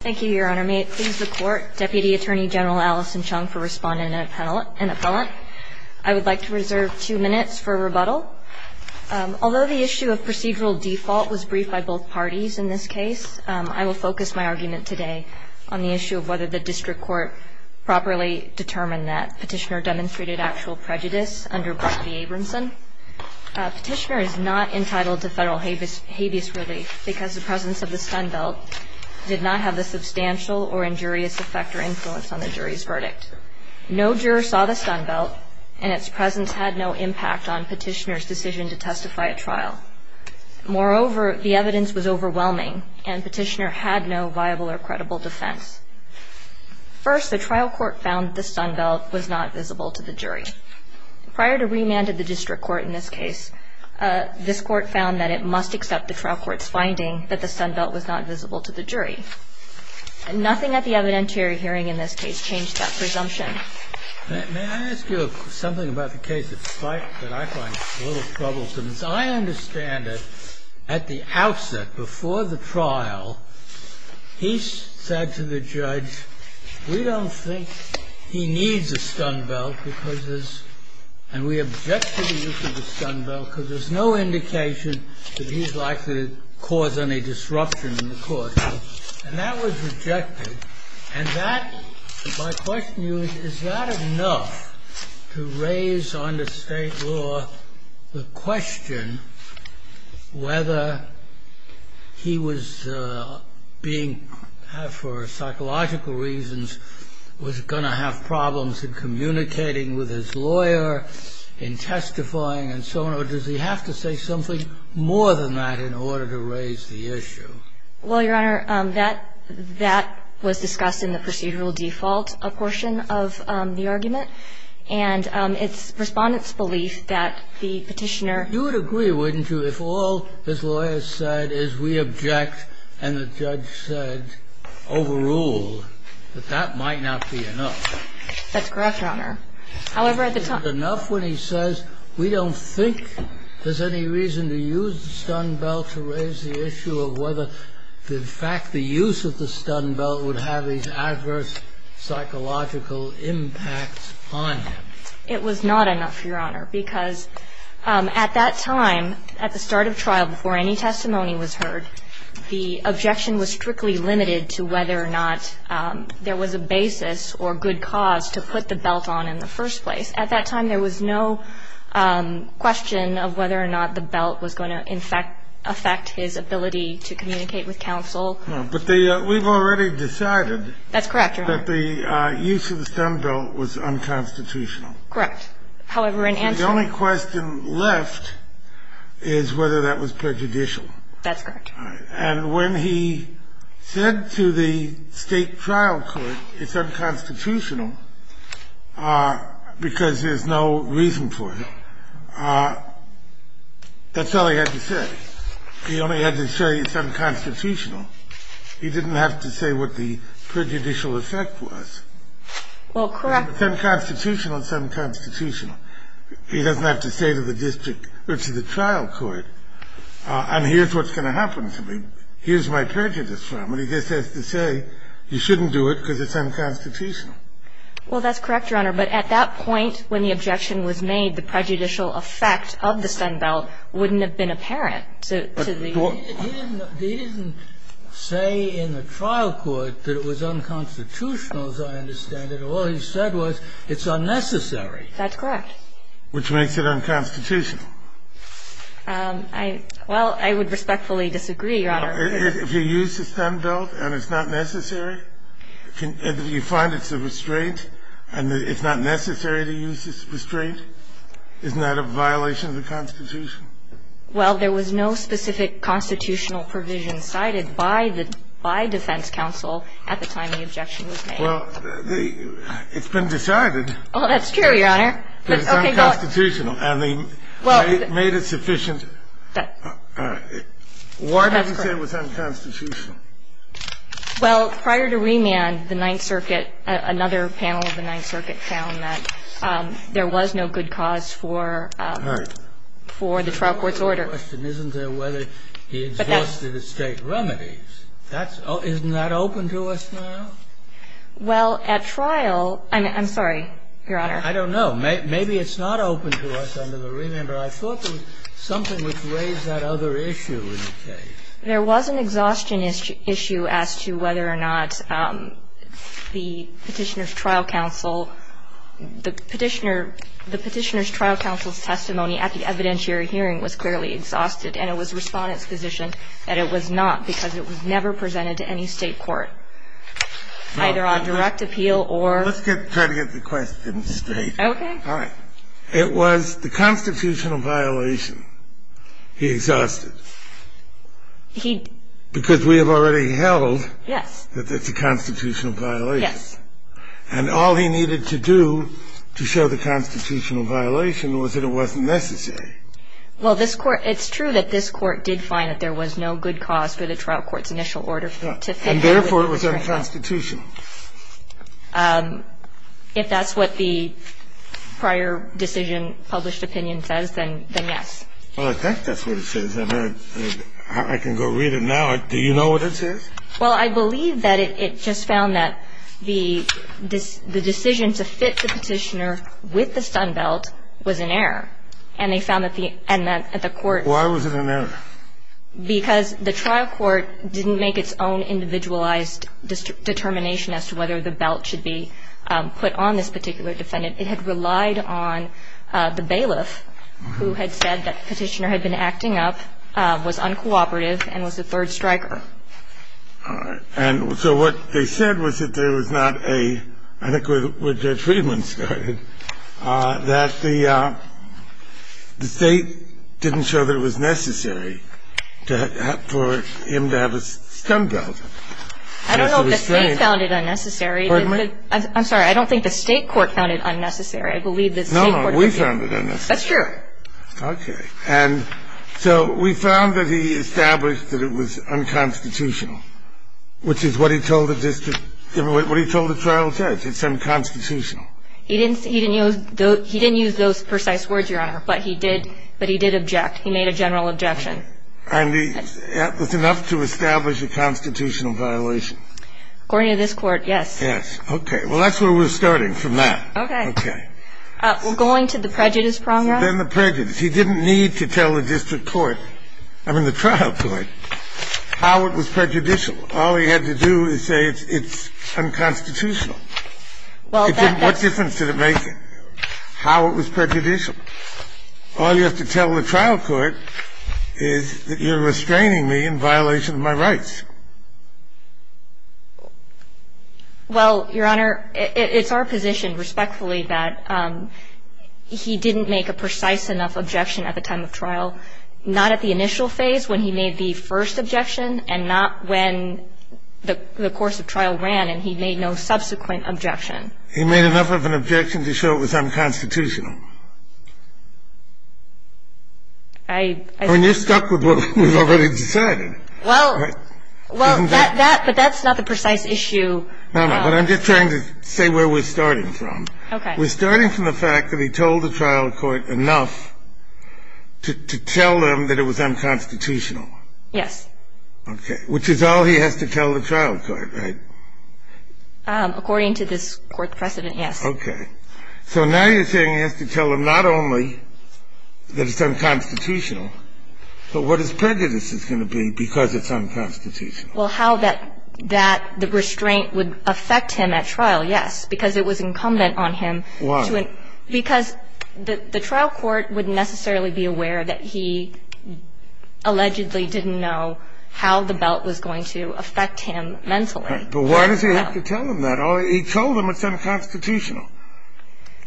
Thank you, Your Honor. May it please the Court, Deputy Attorney General Allison Chung, for responding to an appellant. I would like to reserve two minutes for rebuttal. Although the issue of procedural default was briefed by both parties in this case, I will focus my argument today on the issue of whether the District Court properly determined that Petitioner demonstrated actual prejudice under Brock v. Abramson. Petitioner is not entitled to federal habeas relief because the presence of the stun belt did not have the substantial or injurious effect or influence on the jury's verdict. No juror saw the stun belt, and its presence had no impact on Petitioner's decision to testify at trial. Moreover, the evidence was overwhelming, and Petitioner had no viable or credible defense. First, the trial court found the stun belt was not visible to the jury. Prior to remand at the District Court in this case, this Court found that it must accept the trial court's finding that the stun belt was not visible to the jury. Nothing at the evidentiary hearing in this case changed that presumption. May I ask you something about the case that I find a little troublesome? As I understand it, at the outset, before the trial, he said to the judge, we don't think he needs a stun belt because there's, and we object to the use of the stun belt because there's no indication that he's likely to cause any disruption in the court. And that was rejected. And that, my question to you is, is that enough to raise under state law the question whether he was being, for psychological reasons, was going to have problems in communicating with his lawyer, in testifying, and so on, or does he have to say something more than that in order to raise the issue? Well, Your Honor, that was discussed in the procedural default portion of the argument. And it's Respondent's belief that the petitioner ---- You would agree, wouldn't you, if all his lawyer said is we object and the judge said overrule, that that might not be enough? That's correct, Your Honor. However, at the time ---- It was not enough, Your Honor, because at that time, at the start of trial, before any testimony was heard, the objection was strictly limited to whether or not there was a basis or good cause to put the belt on in the first place. At that time, there was no question of whether or not the belt was going to, in fact, affect his ability to communicate with counsel. No. But the ---- We've already decided ---- That's correct, Your Honor. ---- that the use of the Stone Belt was unconstitutional. Correct. However, in answer ---- The only question left is whether that was prejudicial. That's correct. And when he said to the State trial court it's unconstitutional because there's no reason for it, that's all he had to say. He only had to say it's unconstitutional. He didn't have to say what the prejudicial effect was. Well, correct. It's unconstitutional, it's unconstitutional. He doesn't have to say to the district or to the trial court, and here's what's going to happen to me, here's my prejudice from. And he just has to say you shouldn't do it because it's unconstitutional. Well, that's correct, Your Honor. But at that point when the objection was made, the prejudicial effect of the Stone Belt wouldn't have been apparent to the ---- He didn't say in the trial court that it was unconstitutional, as I understand it. All he said was it's unnecessary. That's correct. Which makes it unconstitutional. I ---- Well, I would respectfully disagree, Your Honor. If you use the Stone Belt and it's not necessary, you find it's a restraint and it's not necessary to use this restraint, isn't that a violation of the Constitution? Well, there was no specific constitutional provision cited by the ---- by defense counsel at the time the objection was made. Well, the ---- it's been decided. Oh, that's true, Your Honor. It's unconstitutional and they made it sufficient. That's correct. Why did he say it was unconstitutional? Well, prior to remand, the Ninth Circuit, another panel of the Ninth Circuit found that there was no good cause for ---- All right. For the trial court's order. Isn't there whether he exhausted estate remedies? That's ---- isn't that open to us now? Well, at trial ---- I'm sorry, Your Honor. I don't know. Maybe it's not open to us under the remand, but I thought there was something which raised that other issue in the case. There was an exhaustion issue as to whether or not the Petitioner's Trial Counsel ---- the Petitioner's Trial Counsel's testimony at the evidentiary hearing was clearly exhausted, and it was Respondent's position that it was not because it was never presented to any State court, either on direct appeal or ---- Let's try to get the question straight. Okay. All right. It was the constitutional violation he exhausted. He ---- Because we have already held that it's a constitutional violation. Yes. And all he needed to do to show the constitutional violation was that it wasn't necessary. Well, this Court ---- it's true that this Court did find that there was no good If that's what the prior decision, published opinion, says, then yes. Well, I think that's what it says. I can go read it now. Do you know what it says? Well, I believe that it just found that the decision to fit the Petitioner with the Sun Belt was an error, and they found that the court ---- Why was it an error? Because the trial court didn't make its own individualized determination as to whether the belt should be put on this particular defendant. It had relied on the bailiff, who had said that Petitioner had been acting up, was uncooperative, and was a third striker. All right. And so what they said was that there was not a ---- I think where Judge Friedman started, that the State didn't show that it was necessary for him to have a Sun Belt. I don't know if the State found it unnecessary. Pardon me? I'm sorry. I don't think the State court found it unnecessary. I believe the State court did. No, no, we found it unnecessary. That's true. Okay. And so we found that he established that it was unconstitutional, which is what he told the district ---- what he told the trial judge. It's unconstitutional. He didn't use those precise words, Your Honor, but he did object. He made a general objection. And that was enough to establish a constitutional violation. According to this Court, yes. Yes. Okay. Well, that's where we're starting from that. Okay. Okay. Well, going to the prejudice progress. Then the prejudice. He didn't need to tell the district court, I mean the trial court, how it was prejudicial. All he had to do is say it's unconstitutional. Well, that's ---- What difference did it make how it was prejudicial? All you have to tell the trial court is that you're restraining me in violation of my rights. Well, Your Honor, it's our position, respectfully, that he didn't make a precise enough objection at the time of trial, not at the initial phase when he made the first objection, and not when the course of trial ran and he made no subsequent objection. He made enough of an objection to show it was unconstitutional. I ---- I mean, you're stuck with what we've already decided. Well, that ---- But that's not the precise issue. No, no. But I'm just trying to say where we're starting from. Okay. We're starting from the fact that he told the trial court enough to tell them that it was unconstitutional. Yes. Okay. Which is all he has to tell the trial court, right? According to this Court precedent, yes. Okay. So now you're saying he has to tell them not only that it's unconstitutional, but what his prejudice is going to be because it's unconstitutional. Well, how that the restraint would affect him at trial, yes, because it was incumbent on him to ---- Because the trial court wouldn't necessarily be aware that he allegedly didn't know how the belt was going to affect him mentally. But why does he have to tell them that? He told them it's unconstitutional.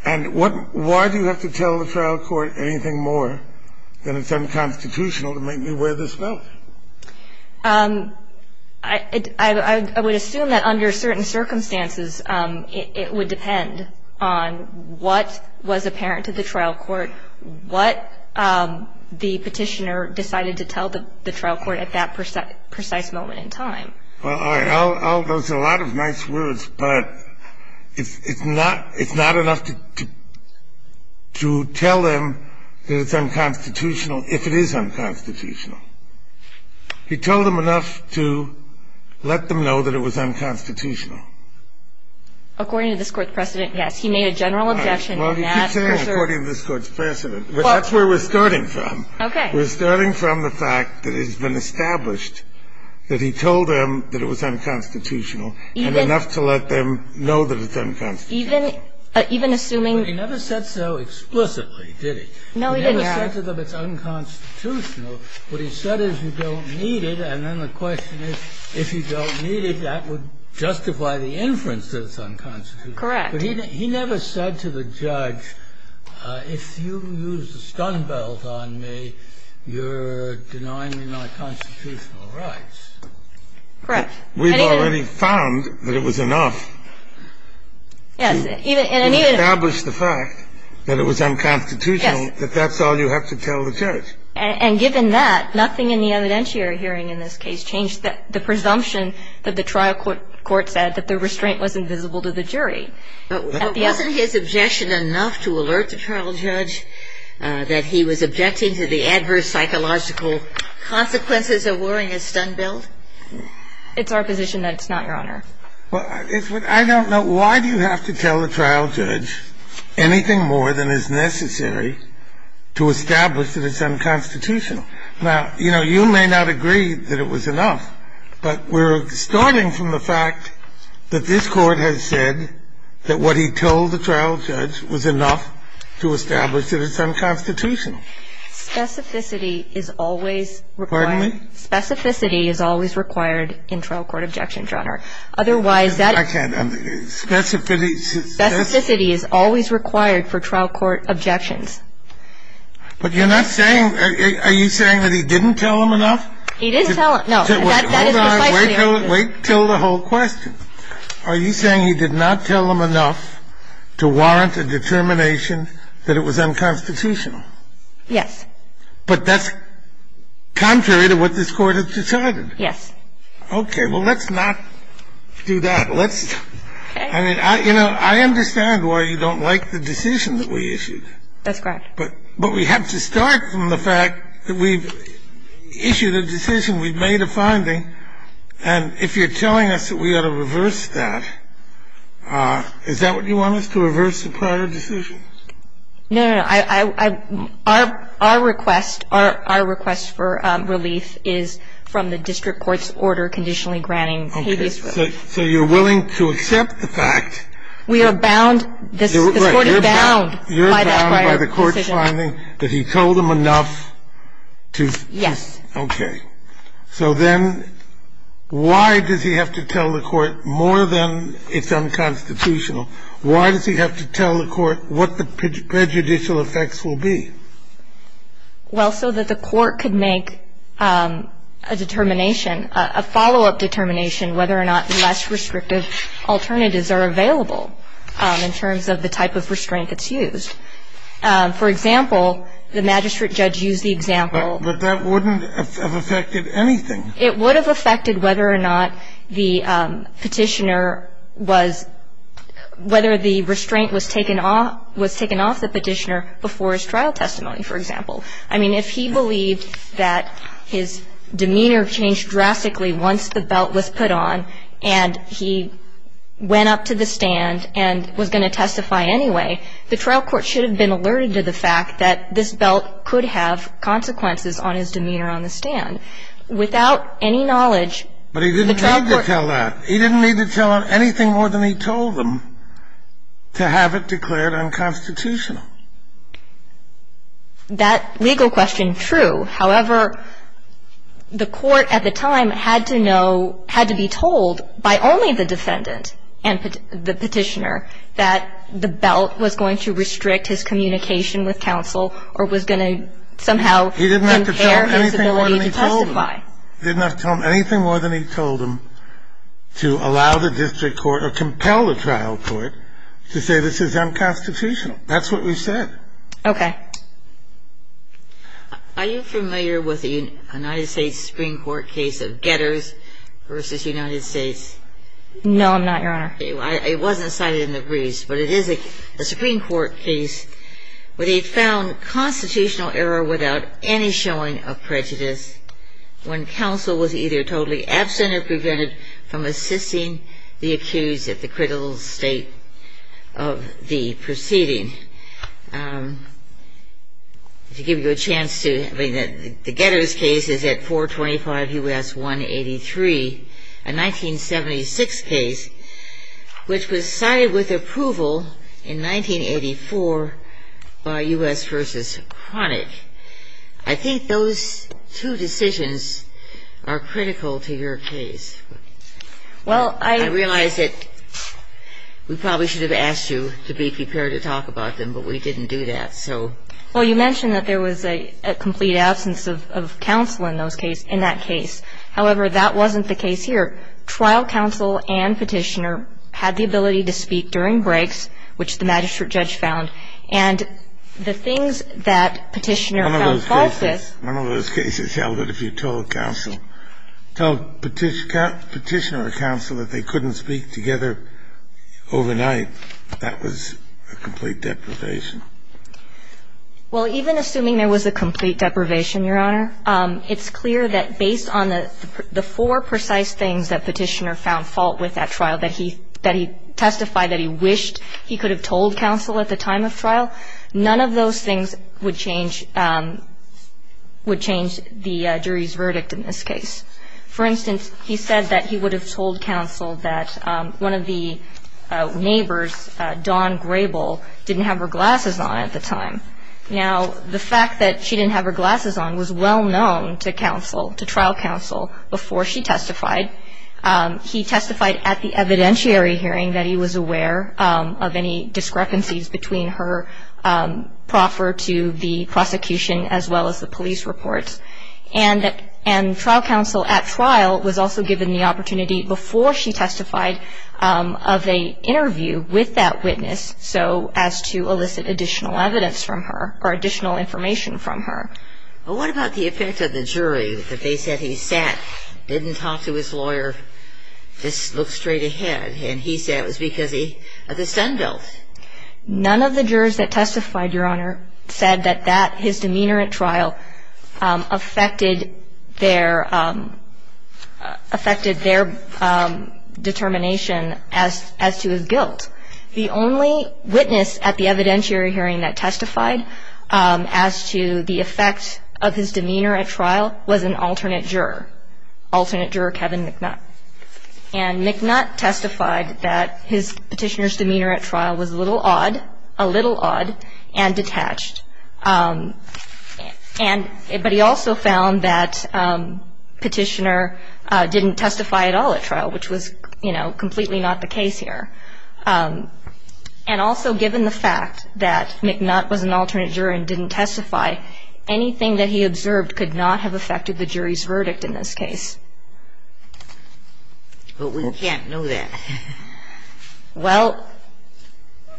And what ---- why do you have to tell the trial court anything more than it's unconstitutional to make me wear this belt? I would assume that under certain circumstances, it would depend on what was apparent to the trial court, what the petitioner decided to tell the trial court at that precise moment in time. Well, all right. Those are a lot of nice words, but it's not enough to tell them that it's unconstitutional if it is unconstitutional. He told them enough to let them know that it was unconstitutional. According to this Court's precedent, yes. He made a general objection in that. Well, he keeps saying according to this Court's precedent, but that's where we're starting from. Okay. We're starting from the fact that it has been established that he told them that it was unconstitutional and enough to let them know that it's unconstitutional. Even assuming ---- But he never said so explicitly, did he? No, he didn't, Your Honor. He never said to them it's unconstitutional. What he said is you don't need it, and then the question is, if you don't need it, that would justify the inference that it's unconstitutional. Correct. But he never said to the judge, if you use the stun belt on me, you're denying me my constitutional rights. Correct. We've already found that it was enough to establish the fact that it was unconstitutional, that that's all you have to tell the judge. And given that, nothing in the evidentiary hearing in this case changed the presumption that the trial court said that the restraint was invisible to the jury. Wasn't his objection enough to alert the trial judge that he was objecting to the adverse psychological consequences of wearing a stun belt? It's our position that it's not, Your Honor. Well, I don't know. Why do you have to tell the trial judge anything more than is necessary to establish that it's unconstitutional? Now, you know, you may not agree that it was enough, but we're starting from the fact that this Court has said that what he told the trial judge was enough to establish that it's unconstitutional. Specificity is always required. Pardon me? Specificity is always required in trial court objection, Your Honor. Otherwise, that ---- I can't understand. Specificity ---- Specificity is always required for trial court objections. But you're not saying ---- Are you saying that he didn't tell them enough? He didn't tell them. No. Hold on. Wait till the whole question. Are you saying he did not tell them enough to warrant a determination that it was unconstitutional? Yes. But that's contrary to what this Court has decided. Yes. Okay. Well, let's not do that. Let's ---- Okay. I mean, you know, I understand why you don't like the decision that we issued. That's correct. But we have to start from the fact that we've issued a decision, we've made a finding, and if you're telling us that we ought to reverse that, is that what you want us to reverse, the prior decision? No, no, no. Our request, our request for relief is from the district court's order conditionally granting habeas root. Okay. So you're willing to accept the fact ---- We are bound. This Court is bound by that prior decision. You're bound by the court's finding that he told them enough to ---- Yes. Okay. So then why does he have to tell the court more than it's unconstitutional? Why does he have to tell the court what the prejudicial effects will be? Well, so that the court could make a determination, a follow-up determination whether or not less restrictive alternatives are available in terms of the type of restraint that's used. For example, the magistrate judge used the example ---- But that wouldn't have affected anything. It would have affected whether or not the Petitioner was ---- whether the restraint was taken off the Petitioner before his trial testimony, for example. I mean, if he believed that his demeanor changed drastically once the belt was put on and he went up to the stand and was going to testify anyway, the trial court should have been alerted to the fact that this belt could have consequences on his demeanor on the stand. Without any knowledge, the trial court ---- But he didn't need to tell that. He didn't need to tell anything more than he told them to have it declared unconstitutional. That legal question, true. However, the court at the time had to know, had to be told by only the defendant and the Petitioner that the belt was going to restrict his communication with counsel or was going to somehow impair his ability to testify. He didn't have to tell them anything more than he told them to allow the district court or compel the trial court to say this is unconstitutional. That's what we said. Okay. Are you familiar with the United States Supreme Court case of Getters v. United States? No, I'm not, Your Honor. It wasn't cited in the briefs, but it is a Supreme Court case where they found constitutional error without any showing of prejudice when counsel was either totally absent or prevented from assisting the accused at the critical state of the proceeding. To give you a chance to ---- The Getters case is at 425 U.S. 183, a 1976 case, which was cited with approval in 1984 by U.S. v. Chronic. I think those two decisions are critical to your case. Well, I ---- I realize that we probably should have asked you to be prepared to talk about them, but we didn't do that, so. Well, you mentioned that there was a complete absence of counsel in that case. However, that wasn't the case here. Trial counsel and petitioner had the ability to speak during breaks, which the magistrate judge found. And the things that petitioner found false is ---- One of those cases held that if you told counsel, told petitioner or counsel that they couldn't speak together overnight, that was a complete deprivation. Well, even assuming there was a complete deprivation, Your Honor, it's clear that based on the four precise things that petitioner found fault with at trial, that he testified that he wished he could have told counsel at the time of trial, none of those things would change the jury's verdict in this case. For instance, he said that he would have told counsel that one of the neighbors, Dawn Grable, didn't have her glasses on at the time. Now, the fact that she didn't have her glasses on was well known to counsel, to trial counsel, before she testified. He testified at the evidentiary hearing that he was aware of any discrepancies between her proffer to the prosecution as well as the police reports. And trial counsel at trial was also given the opportunity before she testified of an interview with that witness so as to elicit additional evidence from her or additional information from her. But what about the effect of the jury that they said he sat, didn't talk to his lawyer, just looked straight ahead, and he said it was because of the sunbelt? None of the jurors that testified, Your Honor, said that that, his demeanor at trial, affected their determination as to his guilt. The only witness at the evidentiary hearing that testified as to the effect of his demeanor at trial was an alternate juror, alternate juror Kevin McNutt. And McNutt testified that his petitioner's demeanor at trial was a little odd, a little odd, and detached. But he also found that Petitioner didn't testify at all at trial, which was, you know, completely not the case here. And also given the fact that McNutt was an alternate juror and didn't testify, anything that he observed could not have affected the jury's verdict in this case. But we can't know that. Well,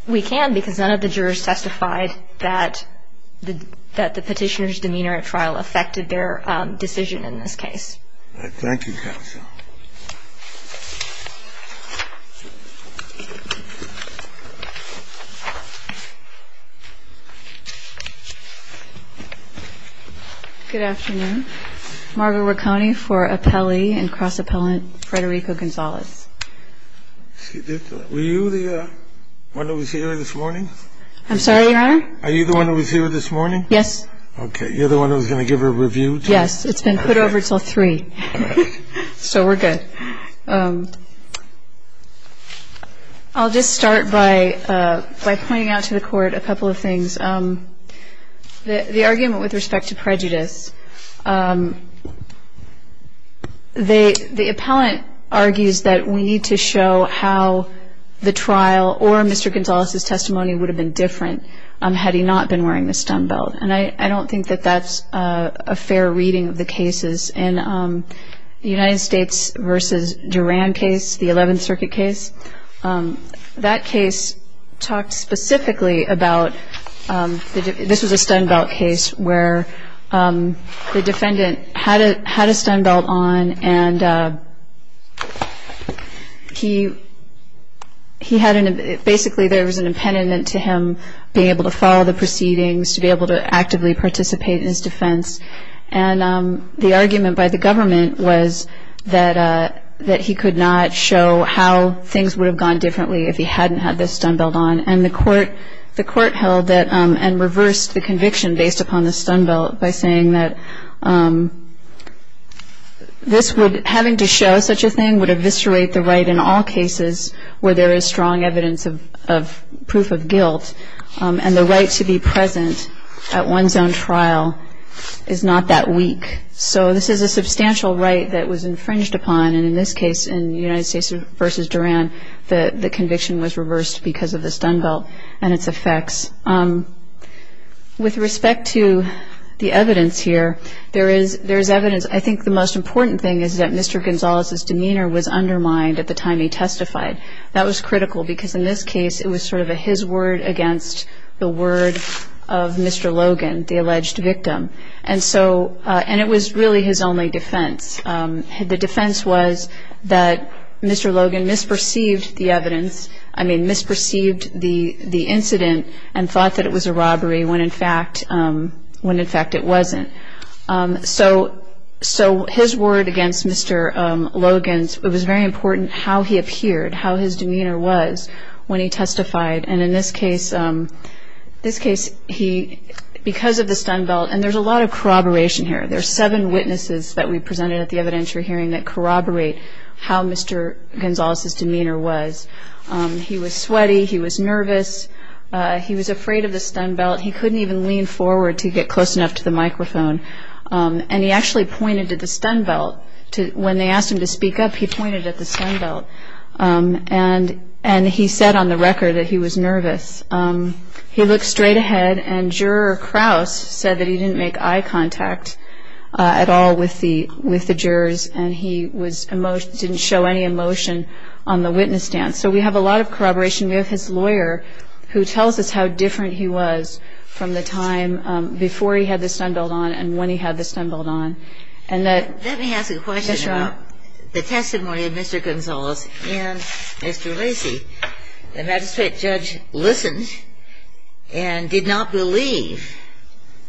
we can because none of the jurors testified that the Petitioner's demeanor at trial affected their decision in this case. Thank you, counsel. Good afternoon. Margot Racone for Appelli and Cross-Appellant Frederico Gonzalez. Were you the one that was here this morning? Yes. Okay. You're the one who was going to give a review? Yes. It's been put over until 3. So we're good. I'll just start by pointing out to the Court a couple of things. The argument with respect to prejudice, the appellant argues that we need to show how the trial or Mr. Gonzalez's testimony would have been different. Had he not been wearing the stun belt. And I don't think that that's a fair reading of the cases. In the United States v. Duran case, the 11th Circuit case, that case talked specifically about, this was a stun belt case, where the defendant had a stun belt on and he had, basically there was an impediment to him being able to follow the proceedings, to be able to actively participate in his defense. And the argument by the government was that he could not show how things would have gone differently if he hadn't had this stun belt on. And the Court held that and reversed the conviction based upon the stun belt by saying that having to show such a thing would eviscerate the right in all cases where there is strong evidence of proof of guilt. And the right to be present at one's own trial is not that weak. So this is a substantial right that was infringed upon. And in this case, in the United States v. Duran, the conviction was reversed because of the stun belt and its effects. With respect to the evidence here, there is evidence. I think the most important thing is that Mr. Gonzalez's demeanor was undermined at the time he testified. That was critical because in this case it was sort of a his word against the word of Mr. Logan, the alleged victim. And it was really his only defense. The defense was that Mr. Logan misperceived the evidence, I mean, misperceived the incident and thought that it was a robbery when in fact it wasn't. So his word against Mr. Logan's, it was very important how he appeared, how his demeanor was when he testified. And in this case, because of the stun belt, and there's a lot of corroboration here. There are seven witnesses that we presented at the evidentiary hearing that corroborate how Mr. Gonzalez's demeanor was. He was sweaty. He was nervous. He was afraid of the stun belt. He couldn't even lean forward to get close enough to the microphone. And he actually pointed to the stun belt. When they asked him to speak up, he pointed at the stun belt. And he said on the record that he was nervous. He looked straight ahead, and Juror Krause said that he didn't make eye contact at all with the jurors and he didn't show any emotion on the witness stand. So we have a lot of corroboration. We have his lawyer who tells us how different he was from the time before he had the stun belt on and when he had the stun belt on. Let me ask a question about the testimony of Mr. Gonzalez and Mr. Lacey. The magistrate judge listened and did not believe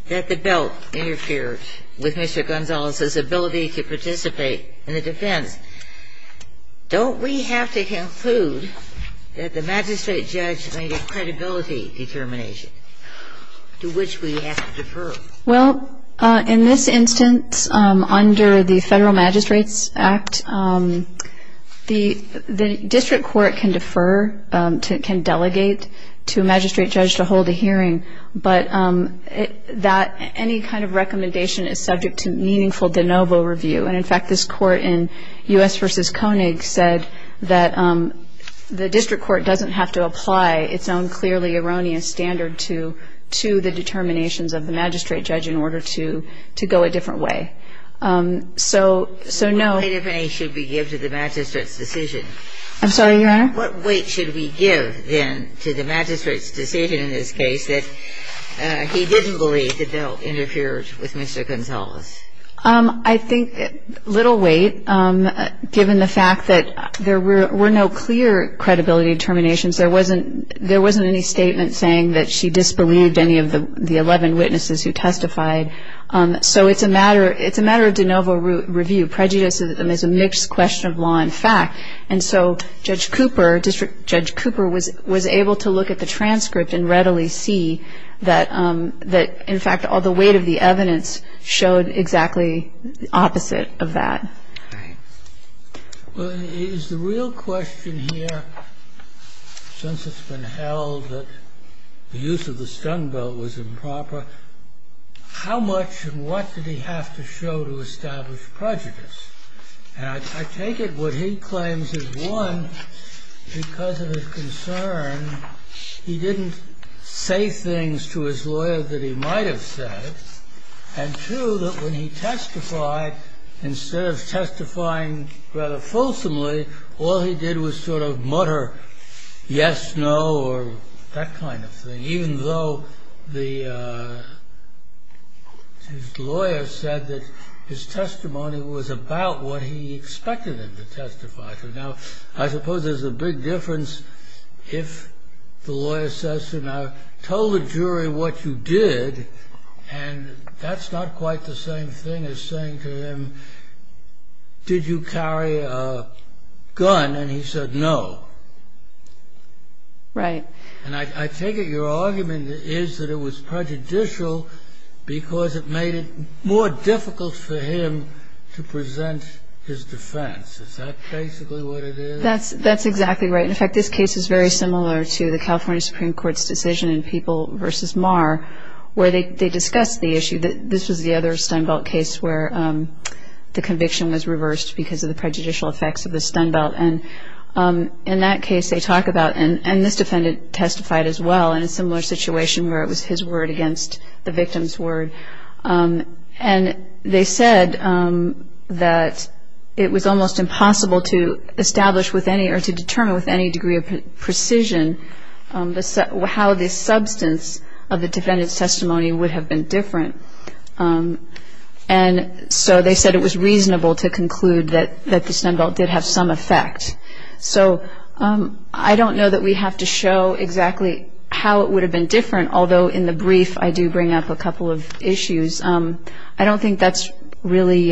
that the belt interfered with Mr. Gonzalez's ability to participate in the defense. Don't we have to conclude that the magistrate judge made a credibility determination to which we have to defer? Well, in this instance, under the Federal Magistrates Act, the district court can defer, can delegate to a magistrate judge to hold a hearing, but any kind of recommendation is subject to meaningful de novo review. And, in fact, this court in U.S. v. Koenig said that the district court doesn't have to apply its own clearly erroneous standard to the determinations of the magistrate judge in order to go a different way. So, no. What weight, if any, should we give to the magistrate's decision? I'm sorry, Your Honor? What weight should we give, then, to the magistrate's decision in this case that he didn't believe the belt interfered with Mr. Gonzalez? I think little weight, given the fact that there were no clear credibility determinations. There wasn't any statement saying that she disbelieved any of the 11 witnesses who testified. So it's a matter of de novo review. Prejudice is a mixed question of law and fact. And so Judge Cooper, District Judge Cooper, was able to look at the transcript and readily see that, in fact, all the weight of the evidence showed exactly the opposite of that. Right. Well, is the real question here, since it's been held that the use of the stun belt was improper, how much and what did he have to show to establish prejudice? And I take it what he claims is, one, because of his concern, he didn't say things to his lawyer that he might have said, and two, that when he testified, instead of testifying rather fulsomely, all he did was sort of mutter, yes, no, or that kind of thing, even though his lawyer said that his testimony was about what he expected him to testify to. Now, I suppose there's a big difference if the lawyer says to him, I told the jury what you did, and that's not quite the same thing as saying to him, did you carry a gun, and he said no. Right. And I take it your argument is that it was prejudicial because it made it more difficult for him to present his defense. Is that basically what it is? That's exactly right. In fact, this case is very similar to the California Supreme Court's decision in People v. Mar, where they discussed the issue that this was the other stun belt case where the conviction was reversed because of the prejudicial effects of the stun belt. And in that case they talk about, and this defendant testified as well in a similar situation where it was his word against the victim's word. And they said that it was almost impossible to establish with any or to determine with any degree of precision how the substance of the defendant's testimony would have been different. And so they said it was reasonable to conclude that the stun belt did have some effect. So I don't know that we have to show exactly how it would have been different, although in the brief I do bring up a couple of issues. I don't think that's really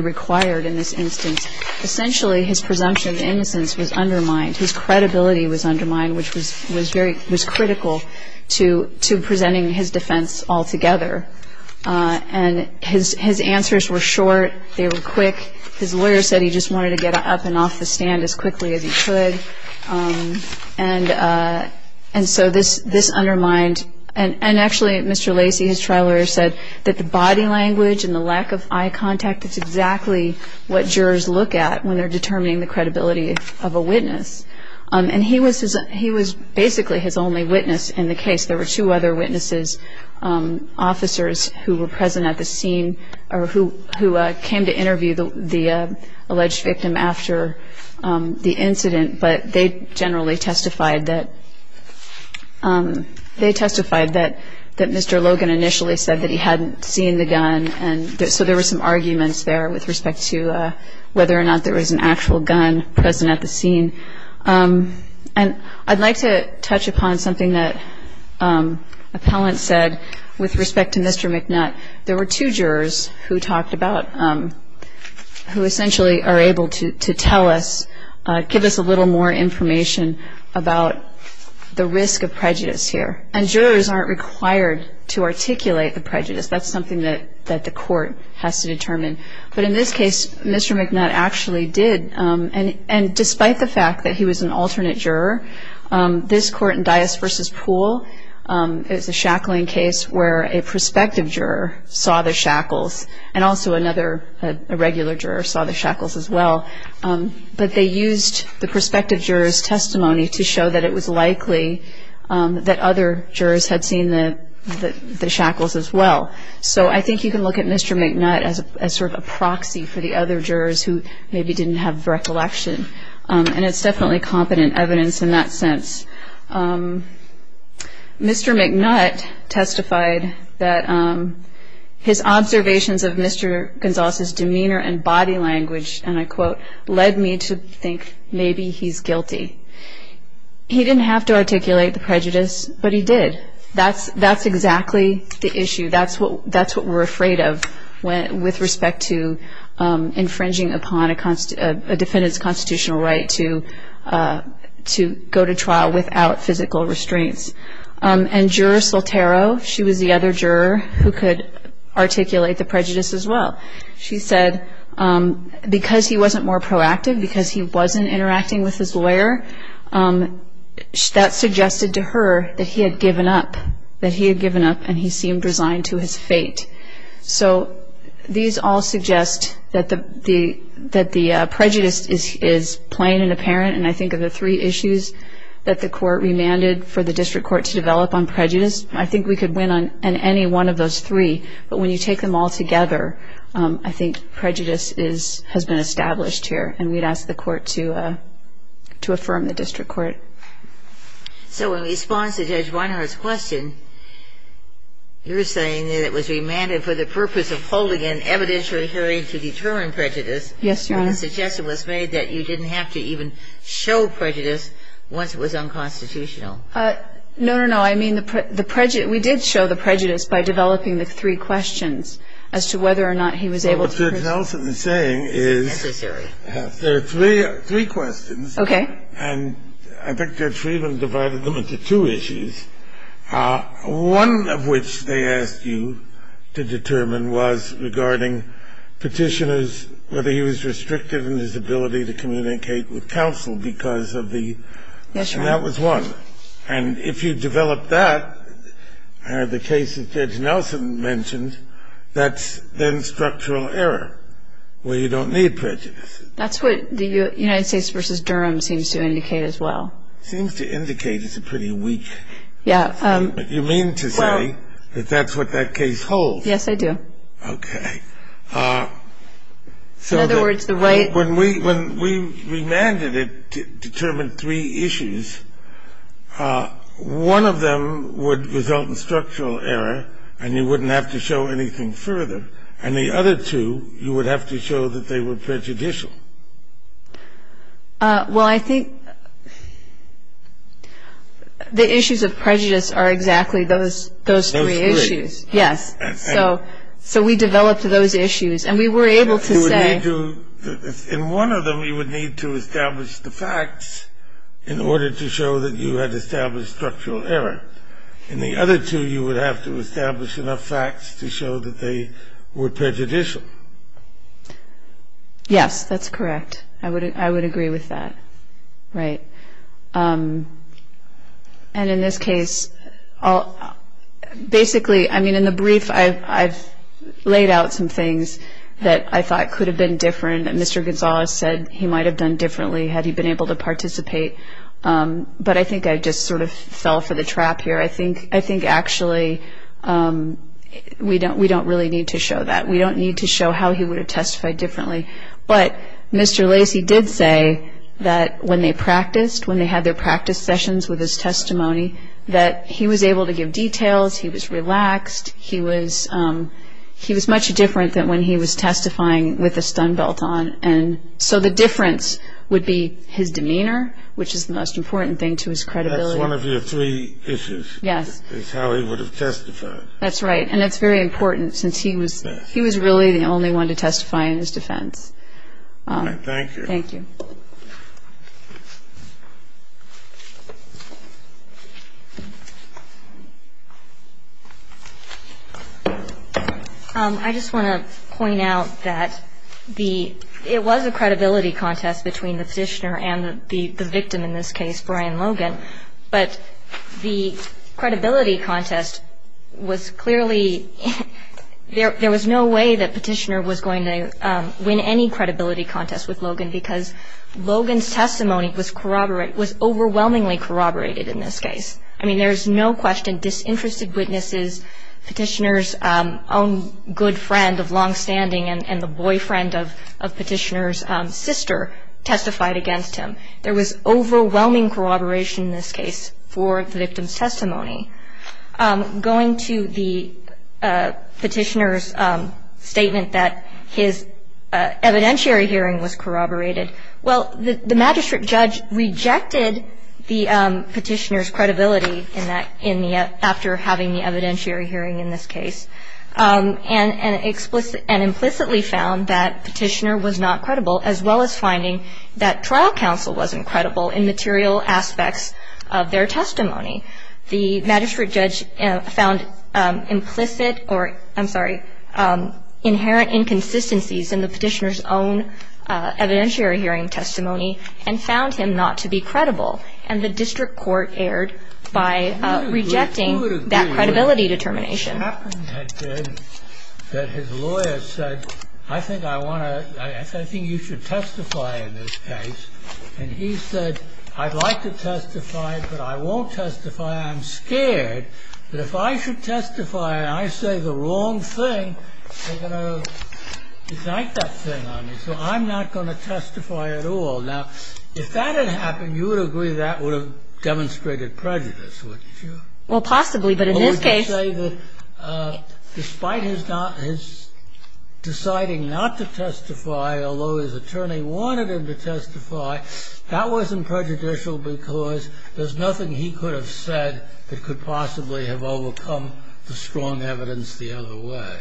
required in this instance. Essentially his presumption of innocence was undermined. His credibility was undermined, which was critical to presenting his defense altogether. And his answers were short. They were quick. His lawyer said he just wanted to get up and off the stand as quickly as he could. And so this undermined. And actually Mr. Lacey, his trial lawyer, said that the body language and the lack of eye contact is exactly what jurors look at when they're determining the credibility of a witness. And he was basically his only witness in the case. There were two other witnesses, officers who were present at the scene or who came to interview the alleged victim after the incident. But they generally testified that Mr. Logan initially said that he hadn't seen the gun. And so there were some arguments there with respect to whether or not there was an actual gun present at the scene. And I'd like to touch upon something that appellant said with respect to Mr. McNutt. There were two jurors who talked about, who essentially are able to tell us, give us a little more information about the risk of prejudice here. And jurors aren't required to articulate the prejudice. That's something that the court has to determine. But in this case, Mr. McNutt actually did. And despite the fact that he was an alternate juror, this court in Dias v. Pool, it was a shackling case where a prospective juror saw the shackles and also another regular juror saw the shackles as well. But they used the prospective juror's testimony to show that it was likely that other jurors had seen the shackles as well. So I think you can look at Mr. McNutt as sort of a proxy for the other jurors who maybe didn't have recollection. And it's definitely competent evidence in that sense. Mr. McNutt testified that his observations of Mr. Gonzales' demeanor and body language, and I quote, led me to think maybe he's guilty. He didn't have to articulate the prejudice, but he did. That's exactly the issue. That's what we're afraid of with respect to infringing upon a defendant's constitutional right to go to trial without physical restraints. And Juror Soltero, she was the other juror who could articulate the prejudice as well. She said because he wasn't more proactive, because he wasn't interacting with his lawyer, that suggested to her that he had given up, that he had given up and he seemed resigned to his fate. So these all suggest that the prejudice is plain and apparent. And I think of the three issues that the court remanded for the district court to develop on prejudice, I think we could win on any one of those three. But when you take them all together, I think prejudice has been established here. And we'd ask the court to affirm the district court. So in response to Judge Weinhart's question, you're saying that it was remanded for the purpose of holding an evidentiary hearing to determine prejudice. Yes, Your Honor. And the suggestion was made that you didn't have to even show prejudice once it was unconstitutional. No, no, no. I mean the prejudice we did show the prejudice by developing the three questions as to whether or not he was able to. What Judge Nelson is saying is there are three questions. Okay. And I think Judge Friedman divided them into two issues. One of which they asked you to determine was regarding petitioners, whether he was restricted in his ability to communicate with counsel because of the issue. Yes, Your Honor. And that was one. And if you develop that, the case that Judge Nelson mentioned, that's then structural error where you don't need prejudice. That's what the United States v. Durham seems to indicate as well. Seems to indicate it's a pretty weak. Yeah. But you mean to say that that's what that case holds. Yes, I do. Okay. In other words, when we remanded it to determine three issues, one of them would result in structural error and you wouldn't have to show anything further. And the other two, you would have to show that they were prejudicial. Well, I think the issues of prejudice are exactly those three issues. Those three. Yes. So we developed those issues. And we were able to say. In one of them, you would need to establish the facts in order to show that you had established structural error. In the other two, you would have to establish enough facts to show that they were prejudicial. Yes, that's correct. I would agree with that. Right. And in this case, basically, I mean, in the brief, I've laid out some things that I thought could have been different that Mr. Gonzalez said he might have done differently had he been able to participate. But I think I just sort of fell for the trap here. I think actually we don't really need to show that. We don't need to show how he would have testified differently. But Mr. Lacy did say that when they practiced, when they had their practice sessions with his testimony, that he was able to give details, he was relaxed, he was much different than when he was testifying with a stun belt on. And so the difference would be his demeanor, which is the most important thing to his credibility. That's one of your three issues. Yes. Is how he would have testified. That's right. And it's very important since he was really the only one to testify in his defense. All right. Thank you. Thank you. I just want to point out that it was a credibility contest between the petitioner and the victim in this case, Brian Logan. But the credibility contest was clearly, there was no way that Petitioner was going to win any credibility contest with Logan because Logan's testimony was overwhelmingly corroborated in this case. I mean there's no question disinterested witnesses, Petitioner's own good friend of long standing and the boyfriend of Petitioner's sister testified against him. There was overwhelming corroboration in this case for the victim's testimony. Going to the Petitioner's statement that his evidentiary hearing was corroborated, well the magistrate judge rejected the Petitioner's credibility after having the evidentiary hearing in this case and implicitly found that Petitioner was not credible as well as finding that trial counsel wasn't credible in material aspects of their testimony. The magistrate judge found implicit or I'm sorry inherent inconsistencies in the Petitioner's own evidentiary hearing testimony and found him not to be credible and the district court erred by rejecting that credibility determination. The only other thing that happened was that his lawyer said I think I want to, I think you should testify in this case. And he said I'd like to testify but I won't testify, I'm scared. But if I should testify and I say the wrong thing, they're going to indict that thing on me so I'm not going to testify at all. Now if that had happened, you would agree that would have demonstrated prejudice, wouldn't you? Well possibly but in this case. Or would you say that despite his deciding not to testify, although his attorney wanted him to testify, that wasn't prejudicial because there's nothing he could have said that could possibly have overcome the strong evidence the other way.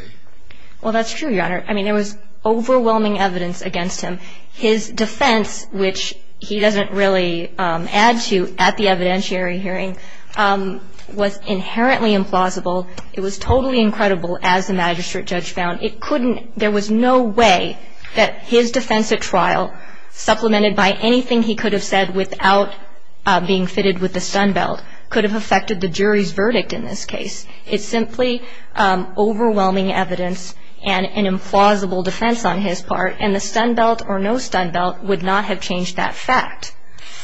Well that's true, Your Honor. I mean there was overwhelming evidence against him. His defense, which he doesn't really add to at the evidentiary hearing, was inherently implausible. It was totally incredible as the magistrate judge found. It couldn't, there was no way that his defense at trial, supplemented by anything he could have said without being fitted with the stun belt, could have affected the jury's verdict in this case. It's simply overwhelming evidence and an implausible defense on his part and the stun belt or no stun belt would not have changed that fact.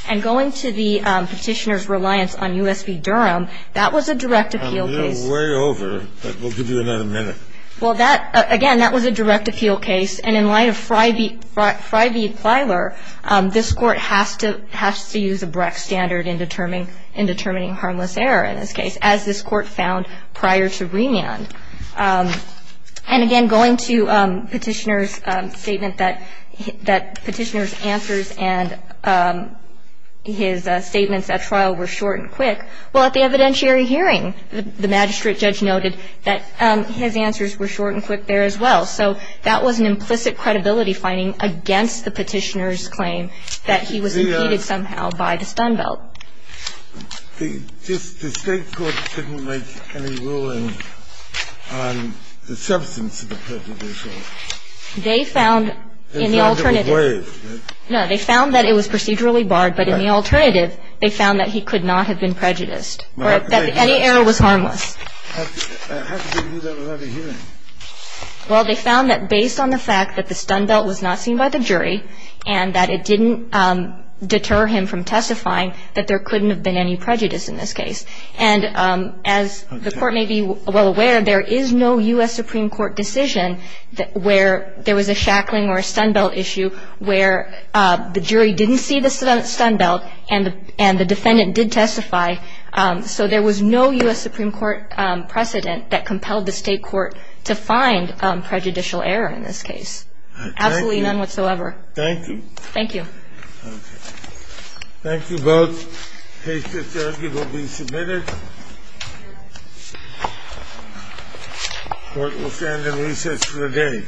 And going to the Petitioner's reliance on U.S. v. Durham, that was a direct appeal case. I'm a little way over but we'll give you another minute. Well that, again, that was a direct appeal case and in light of Fry v. Plyler, this Court has to use a Brecht standard in determining harmless error in this case, as this Court found prior to remand. And again, going to Petitioner's statement that Petitioner's answers and his statements at trial were short and quick, well, at the evidentiary hearing, the magistrate judge noted that his answers were short and quick there as well. So that was an implicit credibility finding against the Petitioner's claim that he was impeded somehow by the stun belt. The State court didn't make any ruling on the substance of the prejudicial. They found in the alternative. No, they found that it was procedurally barred, but in the alternative, they found that he could not have been prejudiced or that any error was harmless. How could they do that without a hearing? Well, they found that based on the fact that the stun belt was not seen by the jury and that it didn't deter him from testifying, that there couldn't have been any prejudice in this case. And as the Court may be well aware, there is no U.S. Supreme Court decision where there was a shackling or a stun belt issue where the jury didn't see the stun belt and the defendant did testify. So there was no U.S. Supreme Court precedent that compelled the State court to find prejudicial error in this case. Absolutely none whatsoever. Thank you. Thank you. Okay. Thank you both. The case to the third will be submitted. The Court will stand in recess for the day.